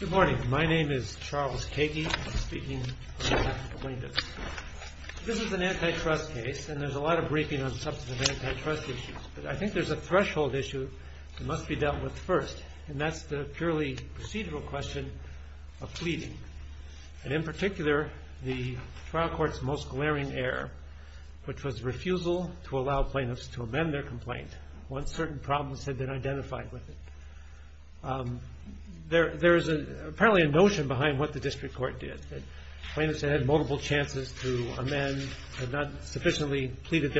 Good morning. My name is Charles Kagey, speaking on behalf of the plaintiffs. This is an antitrust case, and there's a lot of briefing on substantive antitrust issues, but I think there's a threshold issue that must be dealt with first, and that's the purely procedural question of pleading. And in particular, the trial court's most glaring error, which was refusal to allow plaintiffs to amend their complaint once certain problems had been identified with it. There is apparently a notion behind what the district court did. The plaintiffs had multiple chances to amend, had not sufficiently pleaded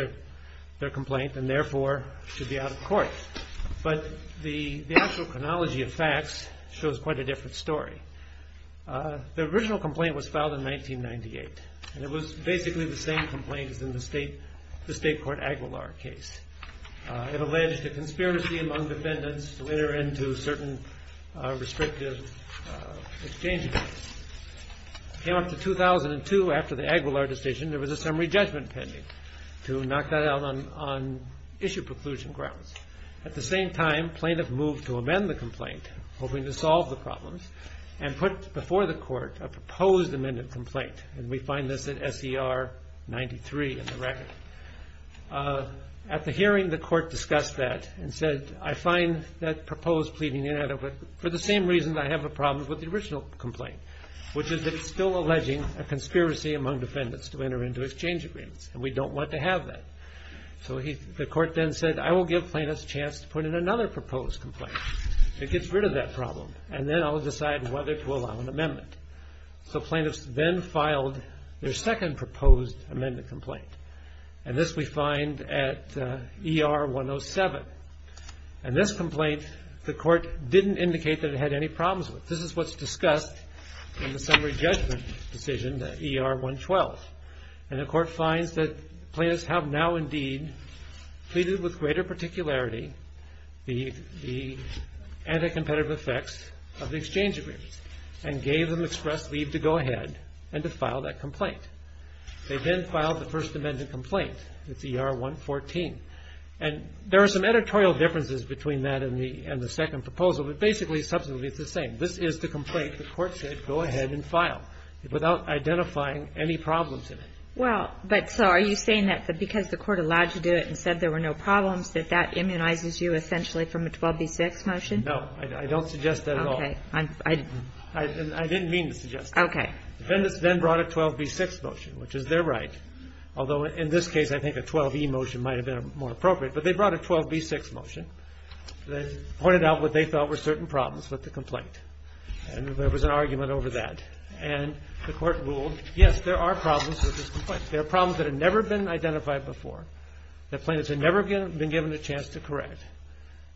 their complaint, and therefore should be out of court. But the actual chronology of facts shows quite a different story. The original complaint was filed in 1998, and it was basically the same complaint as in the state court Aguilar case. It alleged a conspiracy among defendants to enter into certain restrictive exchange agreements. It came up to 2002, after the Aguilar decision, there was a summary judgment pending to knock that out on issue preclusion grounds. At the same time, plaintiffs moved to amend the complaint, hoping to solve the problems, and put before the court a proposed amended complaint, and we find this at SER 93 in the record. At the hearing, the court discussed that and said, I find that proposed pleading inadequate for the same reason I have a problem with the original complaint, which is that it's still alleging a conspiracy among defendants to enter into exchange agreements, and we don't want to have that. So the court then said, I will give plaintiffs a chance to put in another proposed complaint. It gets rid of that problem, and then I'll decide whether to allow an amendment. So plaintiffs then filed their second proposed amended complaint, and this we find at ER 107. In this complaint, the court didn't indicate that it had any problems with it. This is what's discussed in the summary judgment decision at ER 112, and the court finds that plaintiffs have now indeed pleaded with greater particularity the anti-competitive effects of the exchange agreements, and gave them express leave to go ahead and to file that complaint. They then filed the first amended complaint at ER 114, and there are some editorial differences between that and the second proposal, but basically, subsequently, it's the same. This is the complaint the court said go ahead and file without identifying any problems in it. Well, but so are you saying that because the court allowed you to do it and said there were no problems, that that immunizes you essentially from a 12b-6 motion? No. I don't suggest that at all. Okay. I didn't mean to suggest that. Okay. Defendants then brought a 12b-6 motion, which is their right, although in this case I think a 12e motion might have been more appropriate, but they brought a 12b-6 motion that pointed out what they felt were certain problems with the complaint, and there was an argument over that. And the court ruled, yes, there are problems with this complaint. There are problems that have never been identified before. The plaintiffs have never been given a chance to correct.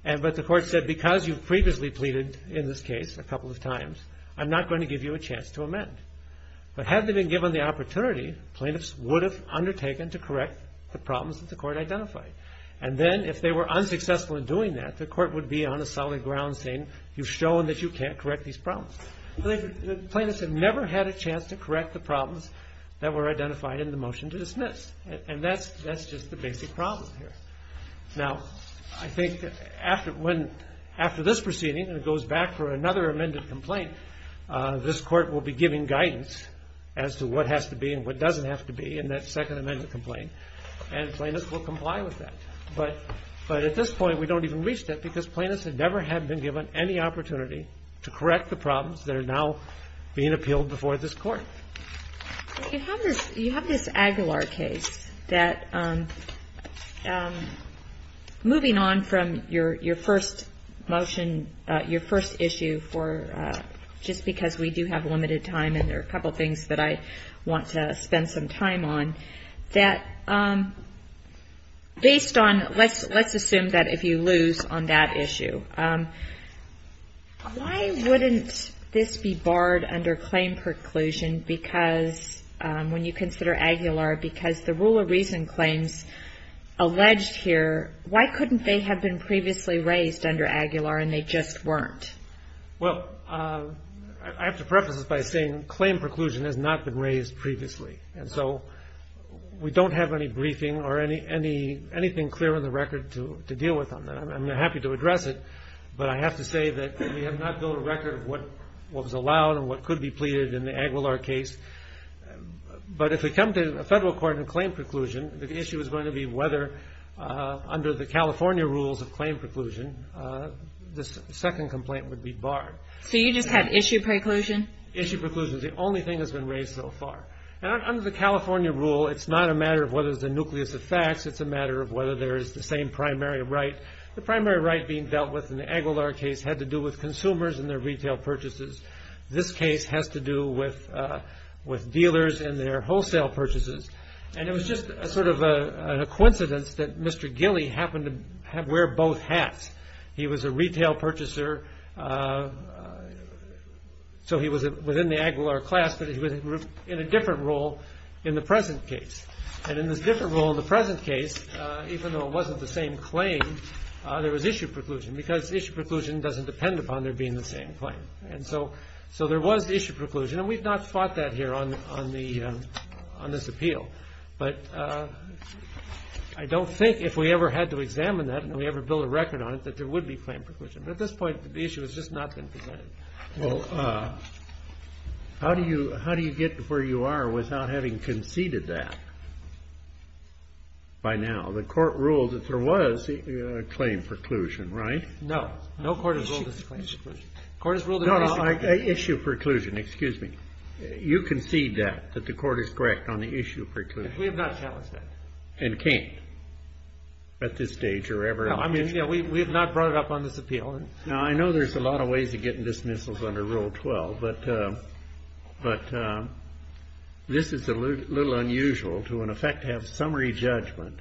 But the court said because you've previously pleaded in this case a couple of times, I'm not going to give you a chance to amend. But had they been given the opportunity, plaintiffs would have undertaken to correct the problems that the court identified. And then if they were unsuccessful in doing that, the court would be on a solid ground saying you've shown that you can't correct these problems. Plaintiffs have never had a chance to correct the problems that were identified in the motion to dismiss, and that's just the basic problem here. Now, I think after this proceeding, and it goes back for another amended complaint, this Court will be giving guidance as to what has to be and what doesn't have to be in that second amended complaint, and plaintiffs will comply with that. But at this point we don't even reach that because plaintiffs have never had been given any opportunity to correct the problems that are now being appealed before this Court. You have this Aguilar case that, moving on from your first motion, your first issue for just because we do have limited time and there are a couple of things that I want to spend some time on, that based on, let's assume that if you lose on that issue, why wouldn't this be barred under claim preclusion when you consider Aguilar because the rule of reason claims alleged here, why couldn't they have been previously raised under Aguilar and they just weren't? Well, I have to preface this by saying claim preclusion has not been raised previously, and so we don't have any briefing or anything clear on the record to deal with on that. I'm happy to address it, but I have to say that we have not built a record of what was allowed and what could be pleaded in the Aguilar case. But if we come to a federal court in claim preclusion, the issue is going to be whether, under the California rules of claim preclusion, this second complaint would be barred. So you just have issue preclusion? Issue preclusion is the only thing that's been raised so far. Now, under the California rule, it's not a matter of whether there's a nucleus of facts, it's a matter of whether there is the same primary right. The primary right being dealt with in the Aguilar case had to do with consumers and their retail purchases. This case has to do with dealers and their wholesale purchases. And it was just sort of a coincidence that Mr. Gilly happened to wear both hats. He was a retail purchaser, so he was within the Aguilar class, but he was in a different role in the present case. And in this different role in the present case, even though it wasn't the same claim, there was issue preclusion because issue preclusion doesn't depend upon there being the same claim. And so there was issue preclusion, and we've not fought that here on this appeal. But I don't think if we ever had to examine that and we ever built a record on it, that there would be claim preclusion. But at this point, the issue has just not been presented. Well, how do you get to where you are without having conceded that by now? The court ruled that there was a claim preclusion, right? No. No court has ruled this a claim preclusion. The court has ruled it an issue preclusion. No, an issue preclusion. Excuse me. You concede that, that the court is correct on the issue preclusion. We have not challenged that. And can't at this stage or ever. No, I mean, yeah, we have not brought it up on this appeal. Now, I know there's a lot of ways of getting dismissals under Rule 12. But this is a little unusual to, in effect, have summary judgment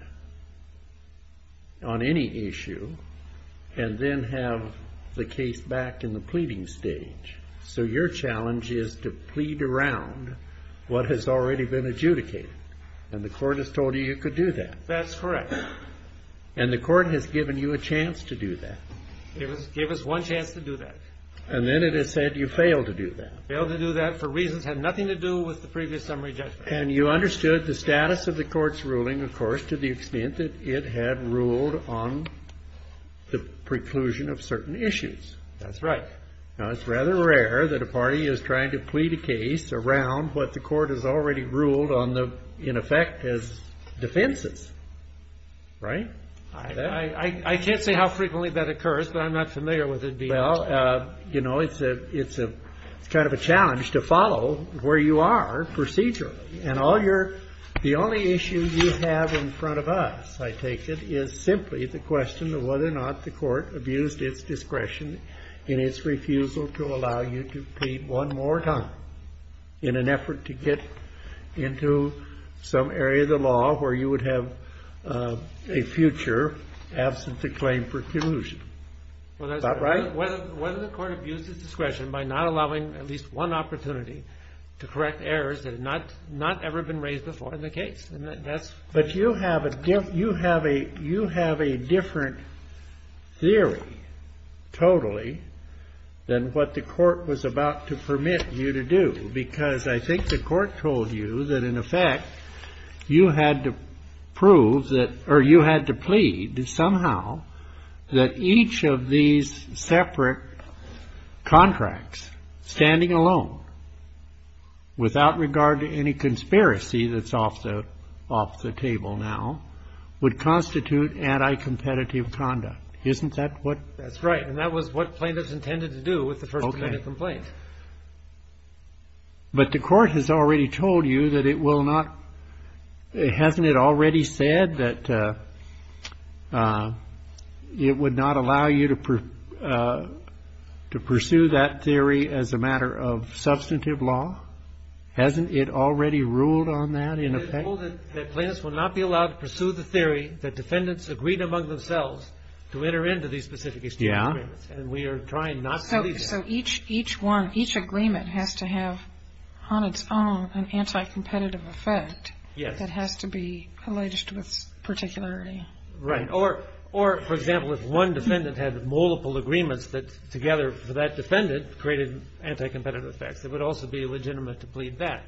on any issue and then have the case back in the pleading stage. So your challenge is to plead around what has already been adjudicated. And the court has told you you could do that. That's correct. And the court has given you a chance to do that. Gave us one chance to do that. And then it has said you failed to do that. Failed to do that for reasons that had nothing to do with the previous summary judgment. And you understood the status of the court's ruling, of course, to the extent that it had ruled on the preclusion of certain issues. That's right. Now, it's rather rare that a party is trying to plead a case around what the court has already ruled on the, in effect, as defenses. Right? I can't say how frequently that occurs, but I'm not familiar with it being. Well, you know, it's kind of a challenge to follow where you are procedurally. And the only issue you have in front of us, I take it, is simply the question of whether or not the court abused its discretion in its refusal to allow you to plead one more time in an effort to get into some area of the law where you would have a future absence of claim for collusion. Is that right? Whether the court abused its discretion by not allowing at least one opportunity to correct errors that had not ever been raised before in the case. But you have a different theory, totally, than what the court was about to permit you to do. Because I think the court told you that, in effect, you had to prove that, or you had to plead somehow that each of these separate contracts, standing alone, without regard to any conspiracy that's off the table now, would constitute anti-competitive conduct. Isn't that what? That's right. And that was what plaintiffs intended to do with the First Amendment complaint. But the court has already told you that it will not. Hasn't it already said that it would not allow you to pursue that theory as a matter of substantive law? Hasn't it already ruled on that, in effect? It has told it that plaintiffs will not be allowed to pursue the theory that defendants agreed among themselves to enter into these specific agreements. And we are trying not to believe that. So each agreement has to have, on its own, an anti-competitive effect that has to be alleged with particularity. Right. Or, for example, if one defendant had multiple agreements that, together, for that defendant, created anti-competitive effects, it would also be legitimate to plead that.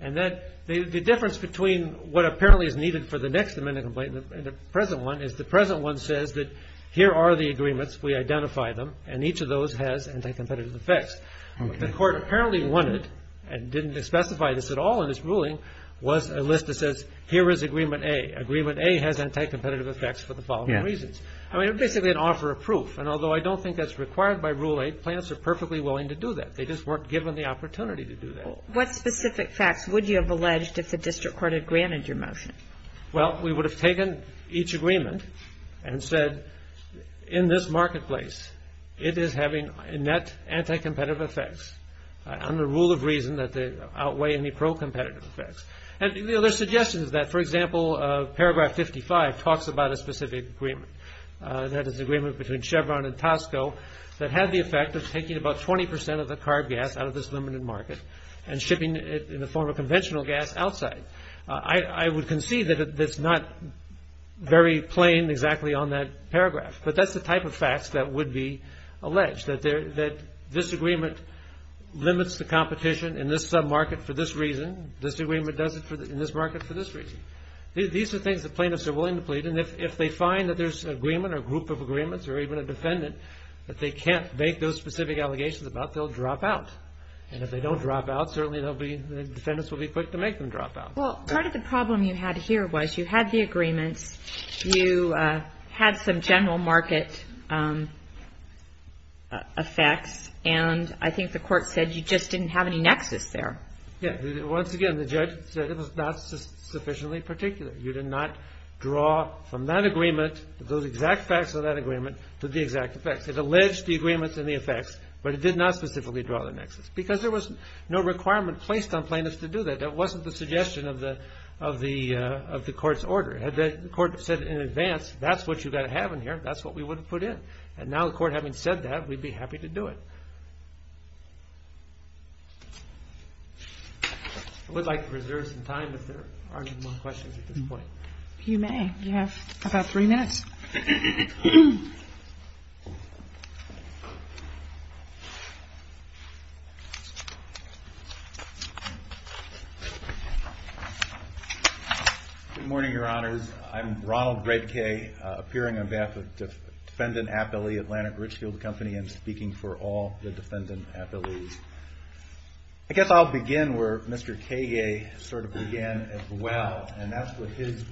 And the difference between what apparently is needed for the next Amendment complaint and the present one is the present one says that here are the agreements, we identify them, and each of those has anti-competitive effects. Okay. The court apparently wanted, and didn't specify this at all in its ruling, was a list that says, here is Agreement A. Agreement A has anti-competitive effects for the following reasons. Yes. I mean, it's basically an offer of proof. And although I don't think that's required by Rule 8, plaintiffs are perfectly willing to do that. They just weren't given the opportunity to do that. What specific facts would you have alleged if the district court had granted your motion? Well, we would have taken each agreement and said, in this marketplace it is having net anti-competitive effects under the rule of reason that they outweigh any pro-competitive effects. And the other suggestion is that, for example, Paragraph 55 talks about a specific agreement, that is an agreement between Chevron and Tosco that had the effect of taking about 20% of the carb gas out of this limited market and shipping it in the form of conventional gas outside. I would concede that it's not very plain exactly on that paragraph. But that's the type of facts that would be alleged, that this agreement limits the competition in this sub-market for this reason, this agreement does it in this market for this reason. These are things that plaintiffs are willing to plead. And if they find that there's an agreement or group of agreements or even a defendant that they can't make those specific allegations about, they'll drop out. And if they don't drop out, certainly the defendants will be quick to make them drop out. Well, part of the problem you had here was you had the agreements, you had some general market effects, and I think the court said you just didn't have any nexus there. Yeah, once again, the judge said it was not sufficiently particular. You did not draw from that agreement, those exact facts of that agreement, to the exact effects. It alleged the agreements and the effects, but it did not specifically draw the nexus because there was no requirement placed on plaintiffs to do that. That wasn't the suggestion of the court's order. Had the court said it in advance, that's what you've got to have in here, that's what we would have put in. And now the court having said that, we'd be happy to do it. I would like to reserve some time if there aren't any more questions at this point. You may. You have about three minutes. Good morning, Your Honors. I'm Ronald Bredke, appearing on behalf of Defendant Appellee Atlantic Richfield Company and speaking for all the defendant appellees. I guess I'll begin where Mr. Kage sort of began as well, and that's with his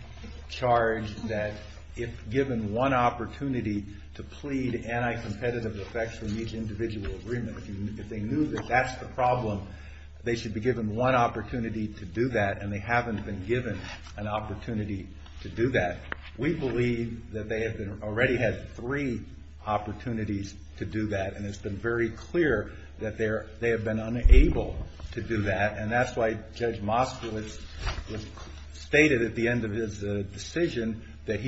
charge that if given one opportunity to plead anti-competitive effects from each individual agreement, if they knew that that's the problem, they should be given one opportunity to do that, and they haven't been given an opportunity to do that. We believe that they have already had three opportunities to do that, and it's been very clear that they have been unable to do that, and that's why Judge Moskowitz stated at the end of his decision that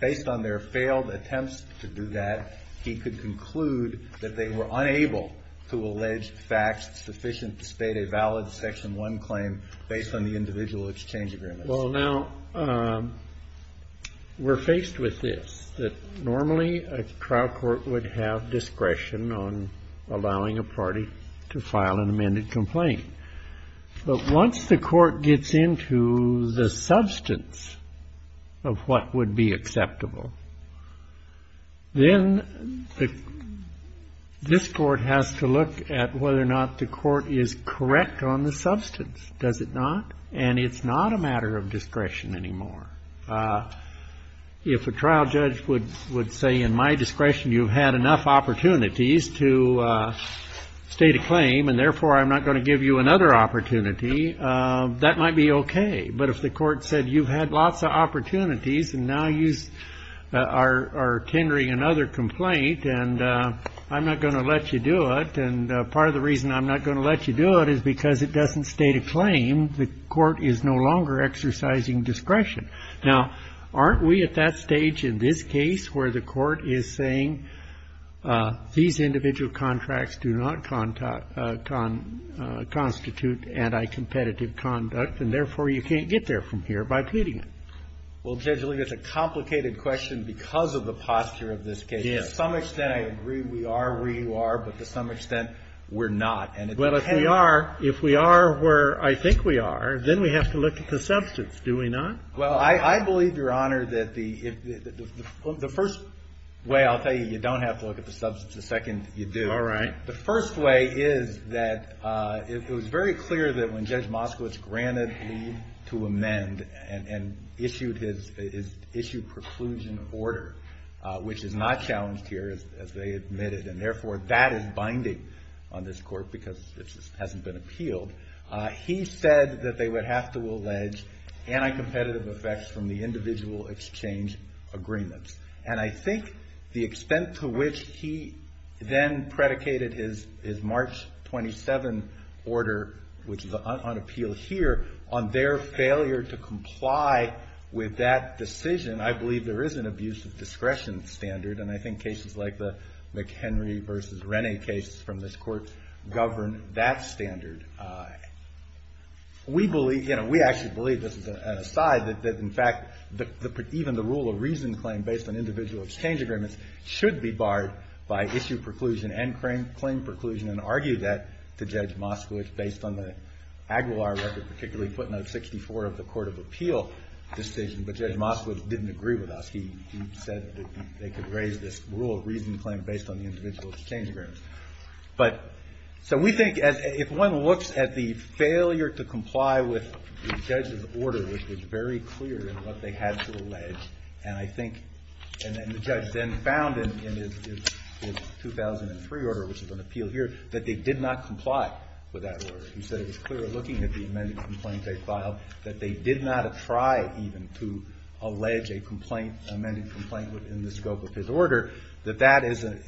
based on their failed attempts to do that, he could conclude that they were unable to allege facts sufficient to state a valid Section 1 claim based on the individual exchange agreements. Well, now, we're faced with this, that normally a trial court would have discretion on allowing a party to file an amended complaint. But once the court gets into the substance of what would be acceptable, then this court has to look at whether or not the court is correct on the substance. Does it not? And it's not a matter of discretion anymore. If a trial judge would say in my discretion you've had enough opportunities to state a claim and therefore I'm not going to give you another opportunity, that might be okay. But if the court said you've had lots of opportunities and now you are tendering another complaint and I'm not going to let you do it, and part of the reason I'm not going to let you do it is because it doesn't state a claim, the court is no longer exercising discretion. Now, aren't we at that stage in this case where the court is saying these individual contracts do not constitute anti-competitive conduct and therefore you can't get there from here by pleading? Well, Judge, it's a complicated question because of the posture of this case. It is. To some extent I agree we are where you are, but to some extent we're not. Well, if we are where I think we are, then we have to look at the substance. Do we not? Well, I believe, Your Honor, that the first way I'll tell you you don't have to look at the substance the second you do. All right. The first way is that it was very clear that when Judge Moskowitz granted leave to amend and issued preclusion order, which is not challenged here as they admitted, and therefore that is binding on this court because it hasn't been appealed, he said that they would have to allege anti-competitive effects from the individual exchange agreements. And I think the extent to which he then predicated his March 27 order, which is on appeal here, on their failure to comply with that decision, I believe there is an abuse of discretion standard, and I think cases like the McHenry v. Rennie cases from this court govern that standard. We believe, you know, we actually believe, this is an aside, that in fact even the rule of reason claim based on individual exchange agreements should be barred by issue preclusion and claim preclusion and argue that to Judge Moskowitz based on the Aguilar record, particularly footnote 64 of the court of appeal decision. But Judge Moskowitz didn't agree with us. He said that they could raise this rule of reason claim based on the individual exchange agreements. But so we think if one looks at the failure to comply with the judge's order, which was very clear in what they had to allege, and I think the judge then found in his 2003 order, which is on appeal here, that they did not comply with that order. He said it was clear looking at the amended complaints they filed that they did not try even to allege a complaint, an amended complaint within the scope of his order, that that is a,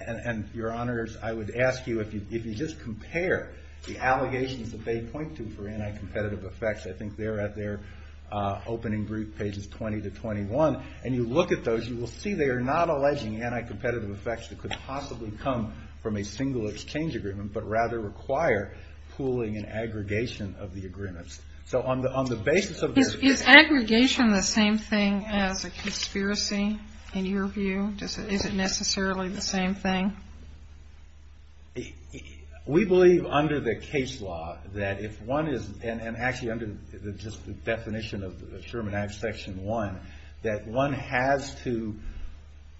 and your honors, I would ask you if you just compare the allegations that they point to for anti-competitive effects, I think they're at their opening brief pages 20 to 21, and you look at those, you will see they are not alleging anti-competitive effects that could possibly come from a single exchange agreement, but rather require pooling and aggregation of the agreements. So on the basis of this. Is aggregation the same thing as a conspiracy in your view? Is it necessarily the same thing? We believe under the case law that if one is, and actually under the definition of the Sherman Act Section 1, that one has to,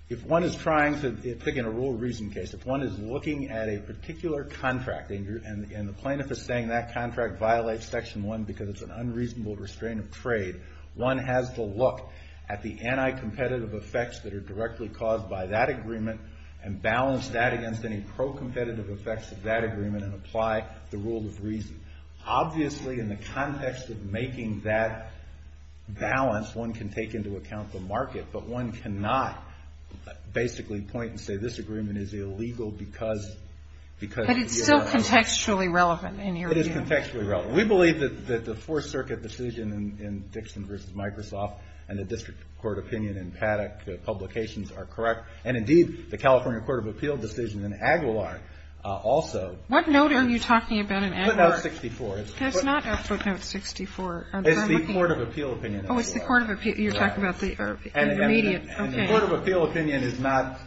if one is trying to pick in a rule of reason case, if one is looking at a particular contract, and the plaintiff is saying that contract violates Section 1 because it's an unreasonable restraint of trade, one has to look at the anti-competitive effects that are directly caused by that agreement and balance that against any pro-competitive effects of that agreement and apply the rule of reason. Obviously in the context of making that balance, one can take into account the market, but one cannot basically point and say this agreement is illegal because. But it's still contextually relevant in your view. It is contextually relevant. We believe that the Fourth Circuit decision in Dixon v. Microsoft and the district court opinion in Paddock Publications are correct, and indeed the California Court of Appeal decision in Aguilar also. What note are you talking about in Aguilar? Footnote 64. It's the Court of Appeal opinion in Aguilar. Oh, it's the Court of Appeal. You're talking about the immediate, okay. And the Court of Appeal opinion is not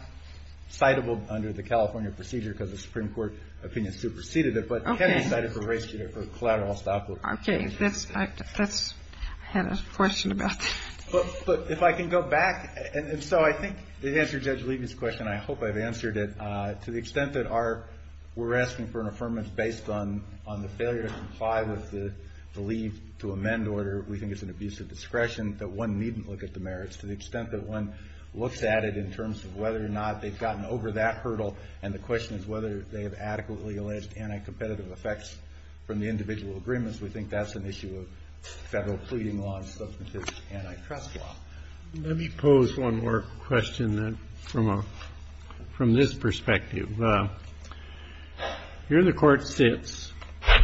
citable under the California procedure because the Supreme Court opinion superseded it, but can be cited for racial or collateral stoppage. Okay. I had a question about that. But if I can go back, and so I think it answers Judge Levy's question. I hope I've answered it. To the extent that we're asking for an affirmance based on the failure to comply with the leave to amend order, we think it's an abuse of discretion that one needn't look at the merits. To the extent that one looks at it in terms of whether or not they've gotten over that hurdle, and the question is whether they have adequately alleged anti-competitive effects from the individual agreements, we think that's an issue of Federal pleading law and substantive antitrust law. Let me pose one more question from this perspective. Here the court sits,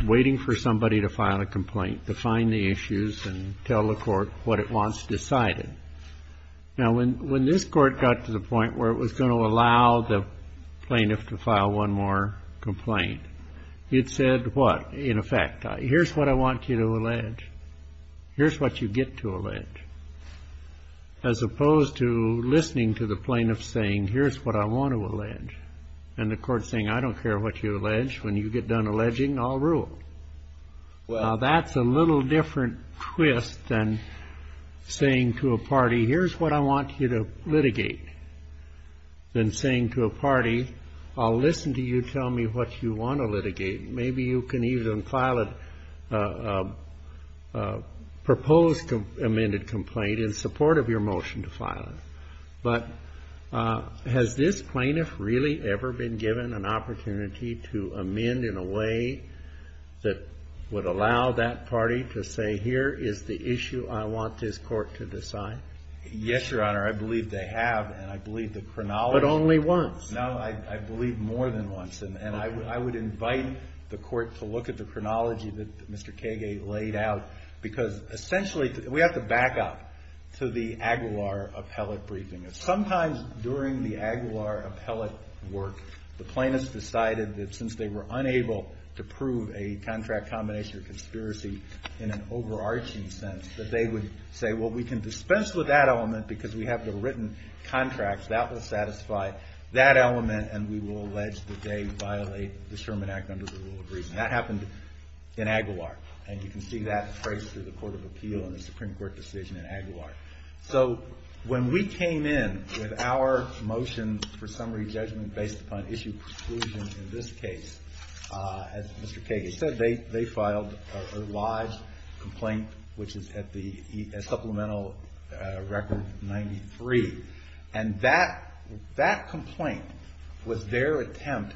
waiting for somebody to file a complaint, to find the issues and tell the court what it wants decided. Now, when this court got to the point where it was going to allow the plaintiff to file one more complaint, it said what? In effect, here's what I want you to allege. Here's what you get to allege. As opposed to listening to the plaintiff saying, here's what I want to allege, and the court saying, I don't care what you allege. When you get done alleging, I'll rule. Now, that's a little different twist than saying to a party, here's what I want you to litigate, than saying to a party, I'll listen to you tell me what you want to litigate. Maybe you can even file a proposed amended complaint in support of your motion to file it. But has this plaintiff really ever been given an opportunity to amend in a way that would allow that party to say, here is the issue I want this court to decide? Yes, Your Honor. I believe they have, and I believe the chronology. But only once. No, I believe more than once. And I would invite the court to look at the chronology that Mr. Kage laid out. Because essentially, we have to back up to the Aguilar appellate briefing. Sometimes during the Aguilar appellate work, the plaintiffs decided that since they were unable to prove a contract combination or conspiracy in an overarching sense, that they would say, well, we can dispense with that element, because we have the written contracts, that will satisfy that element, and we will allege that they violate the Sherman Act under the rule of reason. That happened in Aguilar. And you can see that phrased through the Court of Appeal and the Supreme Court decision in Aguilar. So when we came in with our motion for summary judgment based upon issue preclusions in this case, as Mr. Kage said, they filed a lodged complaint, which is at the supplemental record 93. And that complaint was their attempt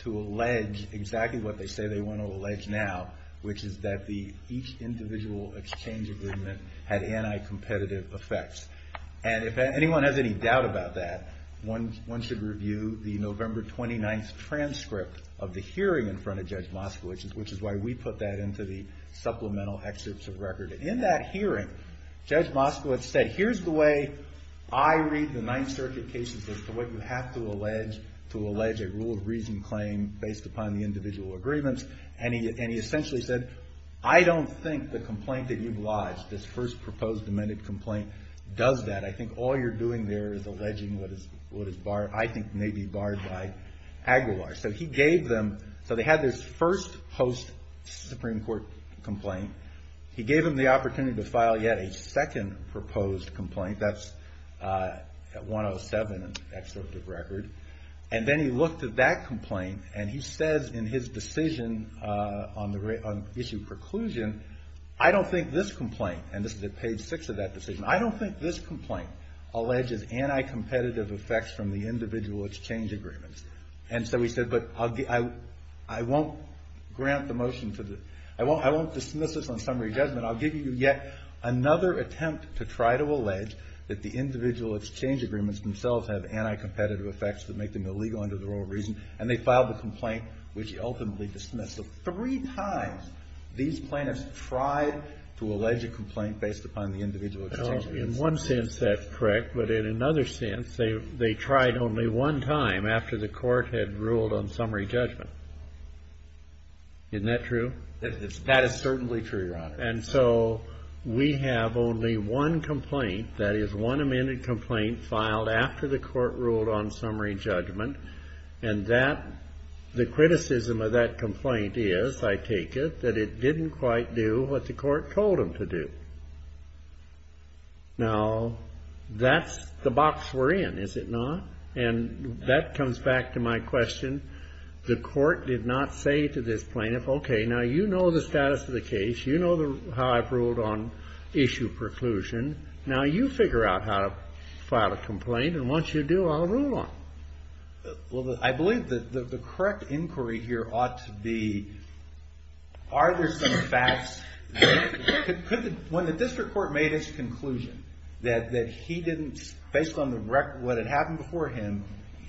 to allege exactly what they say they want to allege now, which is that each individual exchange agreement had anti-competitive effects. And if anyone has any doubt about that, one should review the November 29th transcript of the hearing in front of Judge Moskowitz, which is why we put that into the supplemental excerpts of record. In that hearing, Judge Moskowitz said, here's the way I read the Ninth Circuit cases as to what you have to allege to allege a rule of reason claim based upon the individual agreements. And he essentially said, I don't think the complaint that you've lodged, this first proposed amended complaint, does that. I think all you're doing there is alleging what is barred, I think may be barred by Aguilar. So he gave them, so they had this first post-Supreme Court complaint. He gave them the opportunity to file yet a second proposed complaint, that's at 107 in the excerpt of record. And then he looked at that complaint and he says in his decision on issue preclusion, I don't think this complaint, and this is at page six of that decision, I don't think this complaint alleges anti-competitive effects from the individual exchange agreements. And so he said, but I won't grant the motion to the, I won't dismiss this on summary judgment. I'll give you yet another attempt to try to allege that the individual exchange agreements themselves have anti-competitive effects that make them illegal under the rule of reason. And they filed the complaint, which ultimately dismissed it. Three times these plaintiffs tried to allege a complaint based upon the individual exchange agreements. In one sense, that's correct. But in another sense, they tried only one time after the Court had ruled on summary judgment. Isn't that true? That is certainly true, Your Honor. And so we have only one complaint, that is one amended complaint, filed after the Court ruled on summary judgment. And that, the criticism of that complaint is, I take it, that it didn't quite do what the Court told them to do. Now, that's the box we're in, is it not? And that comes back to my question. The Court did not say to this plaintiff, okay, now you know the status of the case. You know how I've ruled on issue preclusion. Now you figure out how to file a complaint. And once you do, I'll rule on it. Well, I believe that the correct inquiry here ought to be, are there some facts? When the district court made its conclusion that he didn't, based on what had happened before him,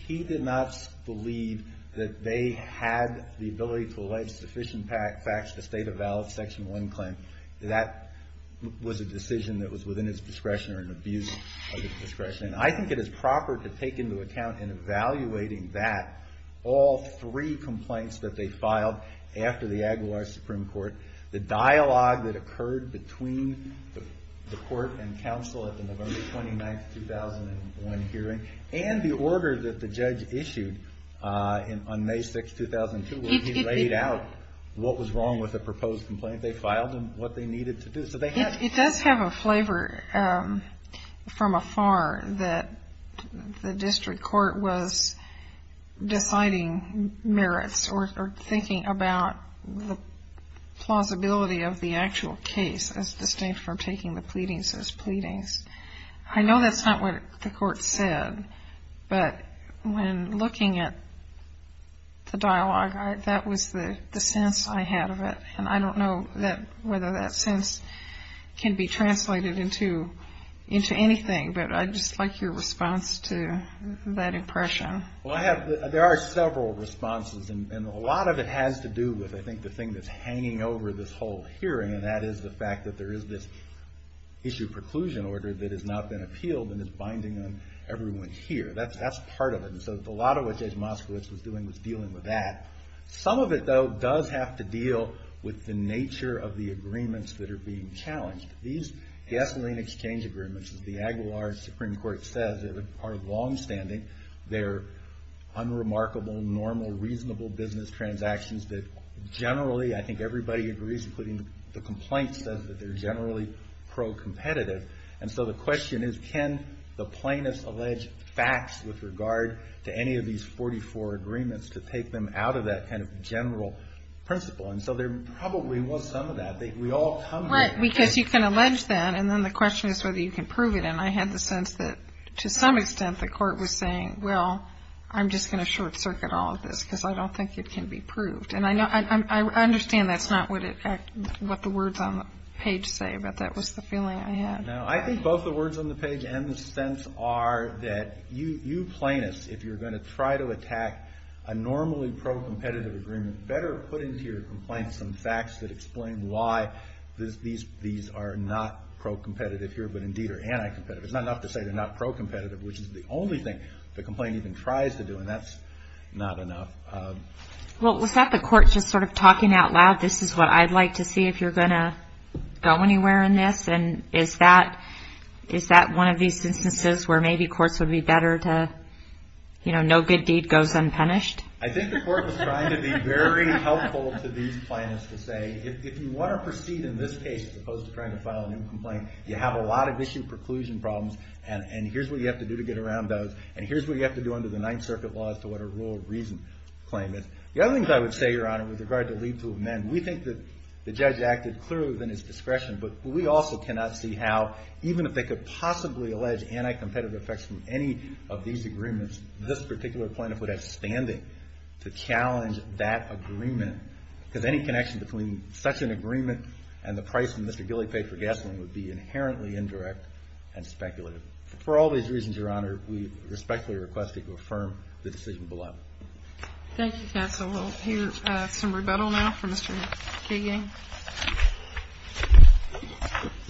he did not believe that they had the ability to elect sufficient facts to state a valid Section 1 claim. That was a decision that was within his discretion or an abuse of his discretion. And I think it is proper to take into account in evaluating that, all three complaints that they filed after the Aguilar Supreme Court, the dialogue that occurred between the Court and counsel at the November 29, 2001 hearing, and the order that the judge issued on May 6, 2002, where he laid out what was wrong with the proposed complaint. They filed them, what they needed to do. It does have a flavor from afar that the district court was deciding merits or thinking about the plausibility of the actual case as distinct from taking the pleadings as pleadings. I know that's not what the court said, but when looking at the dialogue, that was the sense I had of it. And I don't know whether that sense can be translated into anything, but I'd just like your response to that impression. Well, I have. There are several responses, and a lot of it has to do with, I think, the thing that's hanging over this whole hearing, and that is the fact that there is this issue preclusion order that has not been appealed and is binding on everyone here. That's part of it. And so a lot of what Judge Moskowitz was doing was dealing with that. Some of it, though, does have to deal with the nature of the agreements that are being challenged. These gasoline exchange agreements, as the Aguilar Supreme Court says, are longstanding. They're unremarkable, normal, reasonable business transactions that generally, I think everybody agrees, including the complaints, says that they're generally pro-competitive. And so the question is, can the plaintiffs allege facts with regard to any of these 44 agreements to take them out of that kind of general principle? And so there probably was some of that. We all come here. Because you can allege that, and then the question is whether you can prove it. And I had the sense that, to some extent, the court was saying, well, I'm just going to short-circuit all of this because I don't think it can be proved. And I understand that's not what the words on the page say, but that was the feeling I had. No, I think both the words on the page and the sense are that you plaintiffs, if you're going to try to attack a normally pro-competitive agreement, better put into your complaint some facts that explain why these are not pro-competitive here, but indeed are anti-competitive. It's not enough to say they're not pro-competitive, which is the only thing the complaint even tries to do, and that's not enough. Well, was that the court just sort of talking out loud, this is what I'd like to see if you're going to go anywhere in this? And is that one of these instances where maybe courts would be better to, you know, no good deed goes unpunished? I think the court was trying to be very helpful to these plaintiffs to say, if you want to proceed in this case as opposed to trying to file a new complaint, you have a lot of issue preclusion problems, and here's what you have to do to get around those, and here's what you have to do under the Ninth Circuit laws to what a rule of reason claim is. The other things I would say, Your Honor, with regard to leave to amend, we think that the judge acted clearly within his discretion, but we also cannot see how, even if they could possibly allege anti-competitive effects from any of these agreements, this particular plaintiff would have standing to challenge that agreement, because any connection between such an agreement and the price that Mr. Gilly paid for gasoline would be inherently indirect and speculative. For all these reasons, Your Honor, we respectfully request that you affirm the decision below. Thank you, counsel. We'll hear some rebuttal now from Mr. Kagan.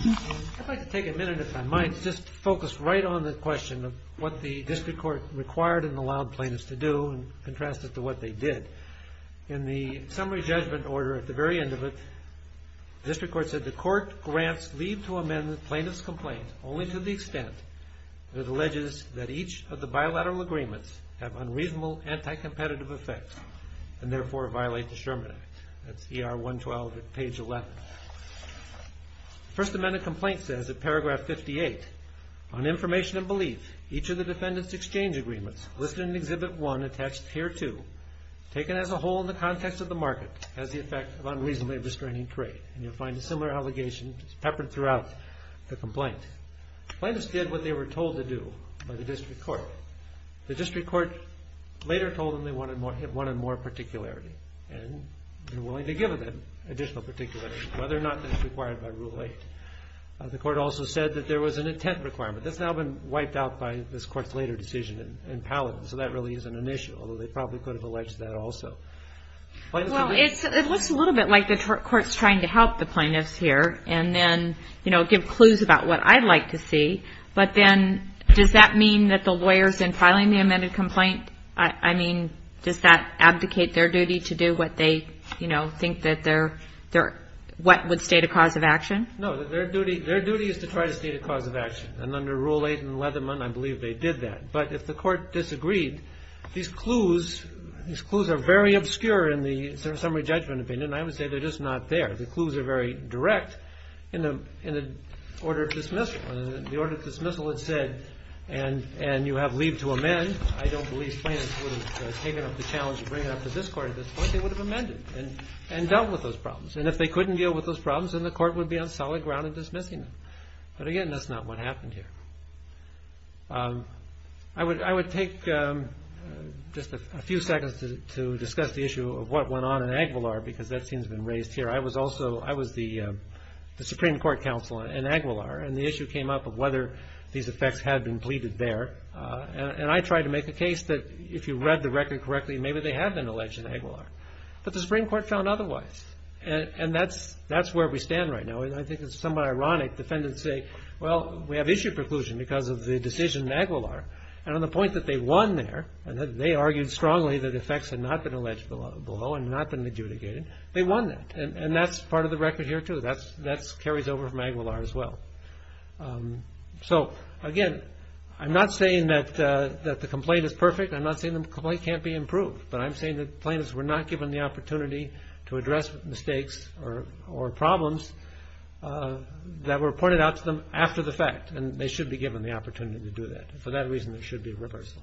I'd like to take a minute, if I might, just to focus right on the question of what the district court required and allowed plaintiffs to do, and contrast it to what they did. In the summary judgment order at the very end of it, the district court said the court grants leave to amend the plaintiff's complaint only to the extent that it alleges that each of the bilateral agreements have unreasonable anti-competitive effects and therefore violate the Sherman Act. That's ER 112 at page 11. The first amended complaint says, at paragraph 58, on information and belief, each of the defendants' exchange agreements listed in Exhibit 1 attached here too, taken as a whole in the context of the market, has the effect of unreasonably restraining trade. You'll find a similar allegation peppered throughout the complaint. Plaintiffs did what they were told to do by the district court. The district court later told them they wanted more particularity and were willing to give them additional particularity, whether or not that's required by Rule 8. The court also said that there was an intent requirement. That's now been wiped out by this court's later decision in Paladin, so that really isn't an issue, although they probably could have alleged that also. Plaintiffs agree? Well, it looks a little bit like the court's trying to help the plaintiffs here and then give clues about what I'd like to see, but then does that mean that the lawyers in filing the amended complaint, I mean, does that abdicate their duty to do what they think would state a cause of action? No, their duty is to try to state a cause of action, and under Rule 8 in Leatherman, I believe they did that. But if the court disagreed, these clues are very obscure in the summary judgment opinion, and I would say they're just not there. The clues are very direct in the order of dismissal. The order of dismissal had said, and you have leave to amend. I don't believe plaintiffs would have taken up the challenge of bringing it up to this court at this point. They would have amended and dealt with those problems. And if they couldn't deal with those problems, then the court would be on solid ground in dismissing them. But again, that's not what happened here. I would take just a few seconds to discuss the issue of what went on in Aguilar, because that seems to have been raised here. I was the Supreme Court counsel in Aguilar, and the issue came up of whether these effects had been pleaded there. And I tried to make the case that if you read the record correctly, maybe they had been alleged in Aguilar, but the Supreme Court found otherwise. And that's where we stand right now. I think it's somewhat ironic defendants say, well, we have issue preclusion because of the decision in Aguilar. And on the point that they won there, and that they argued strongly that effects had not been alleged below and not been adjudicated, they won that. And that's part of the record here, too. That carries over from Aguilar as well. So again, I'm not saying that the complaint is perfect. I'm not saying the complaint can't be improved. But I'm saying the plaintiffs were not given the opportunity to address mistakes or problems that were pointed out to them after the fact, and they should be given the opportunity to do that. For that reason, there should be reversal.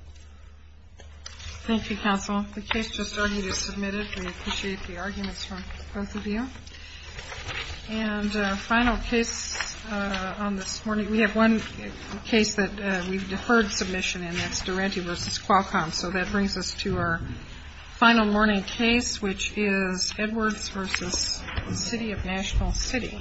Thank you, counsel. The case just earlier submitted, we appreciate the arguments from both of you. And final case on this morning, we have one case that we've deferred submission in. That's Durante v. Qualcomm. So that brings us to our final morning case, which is Edwards v. City of National City.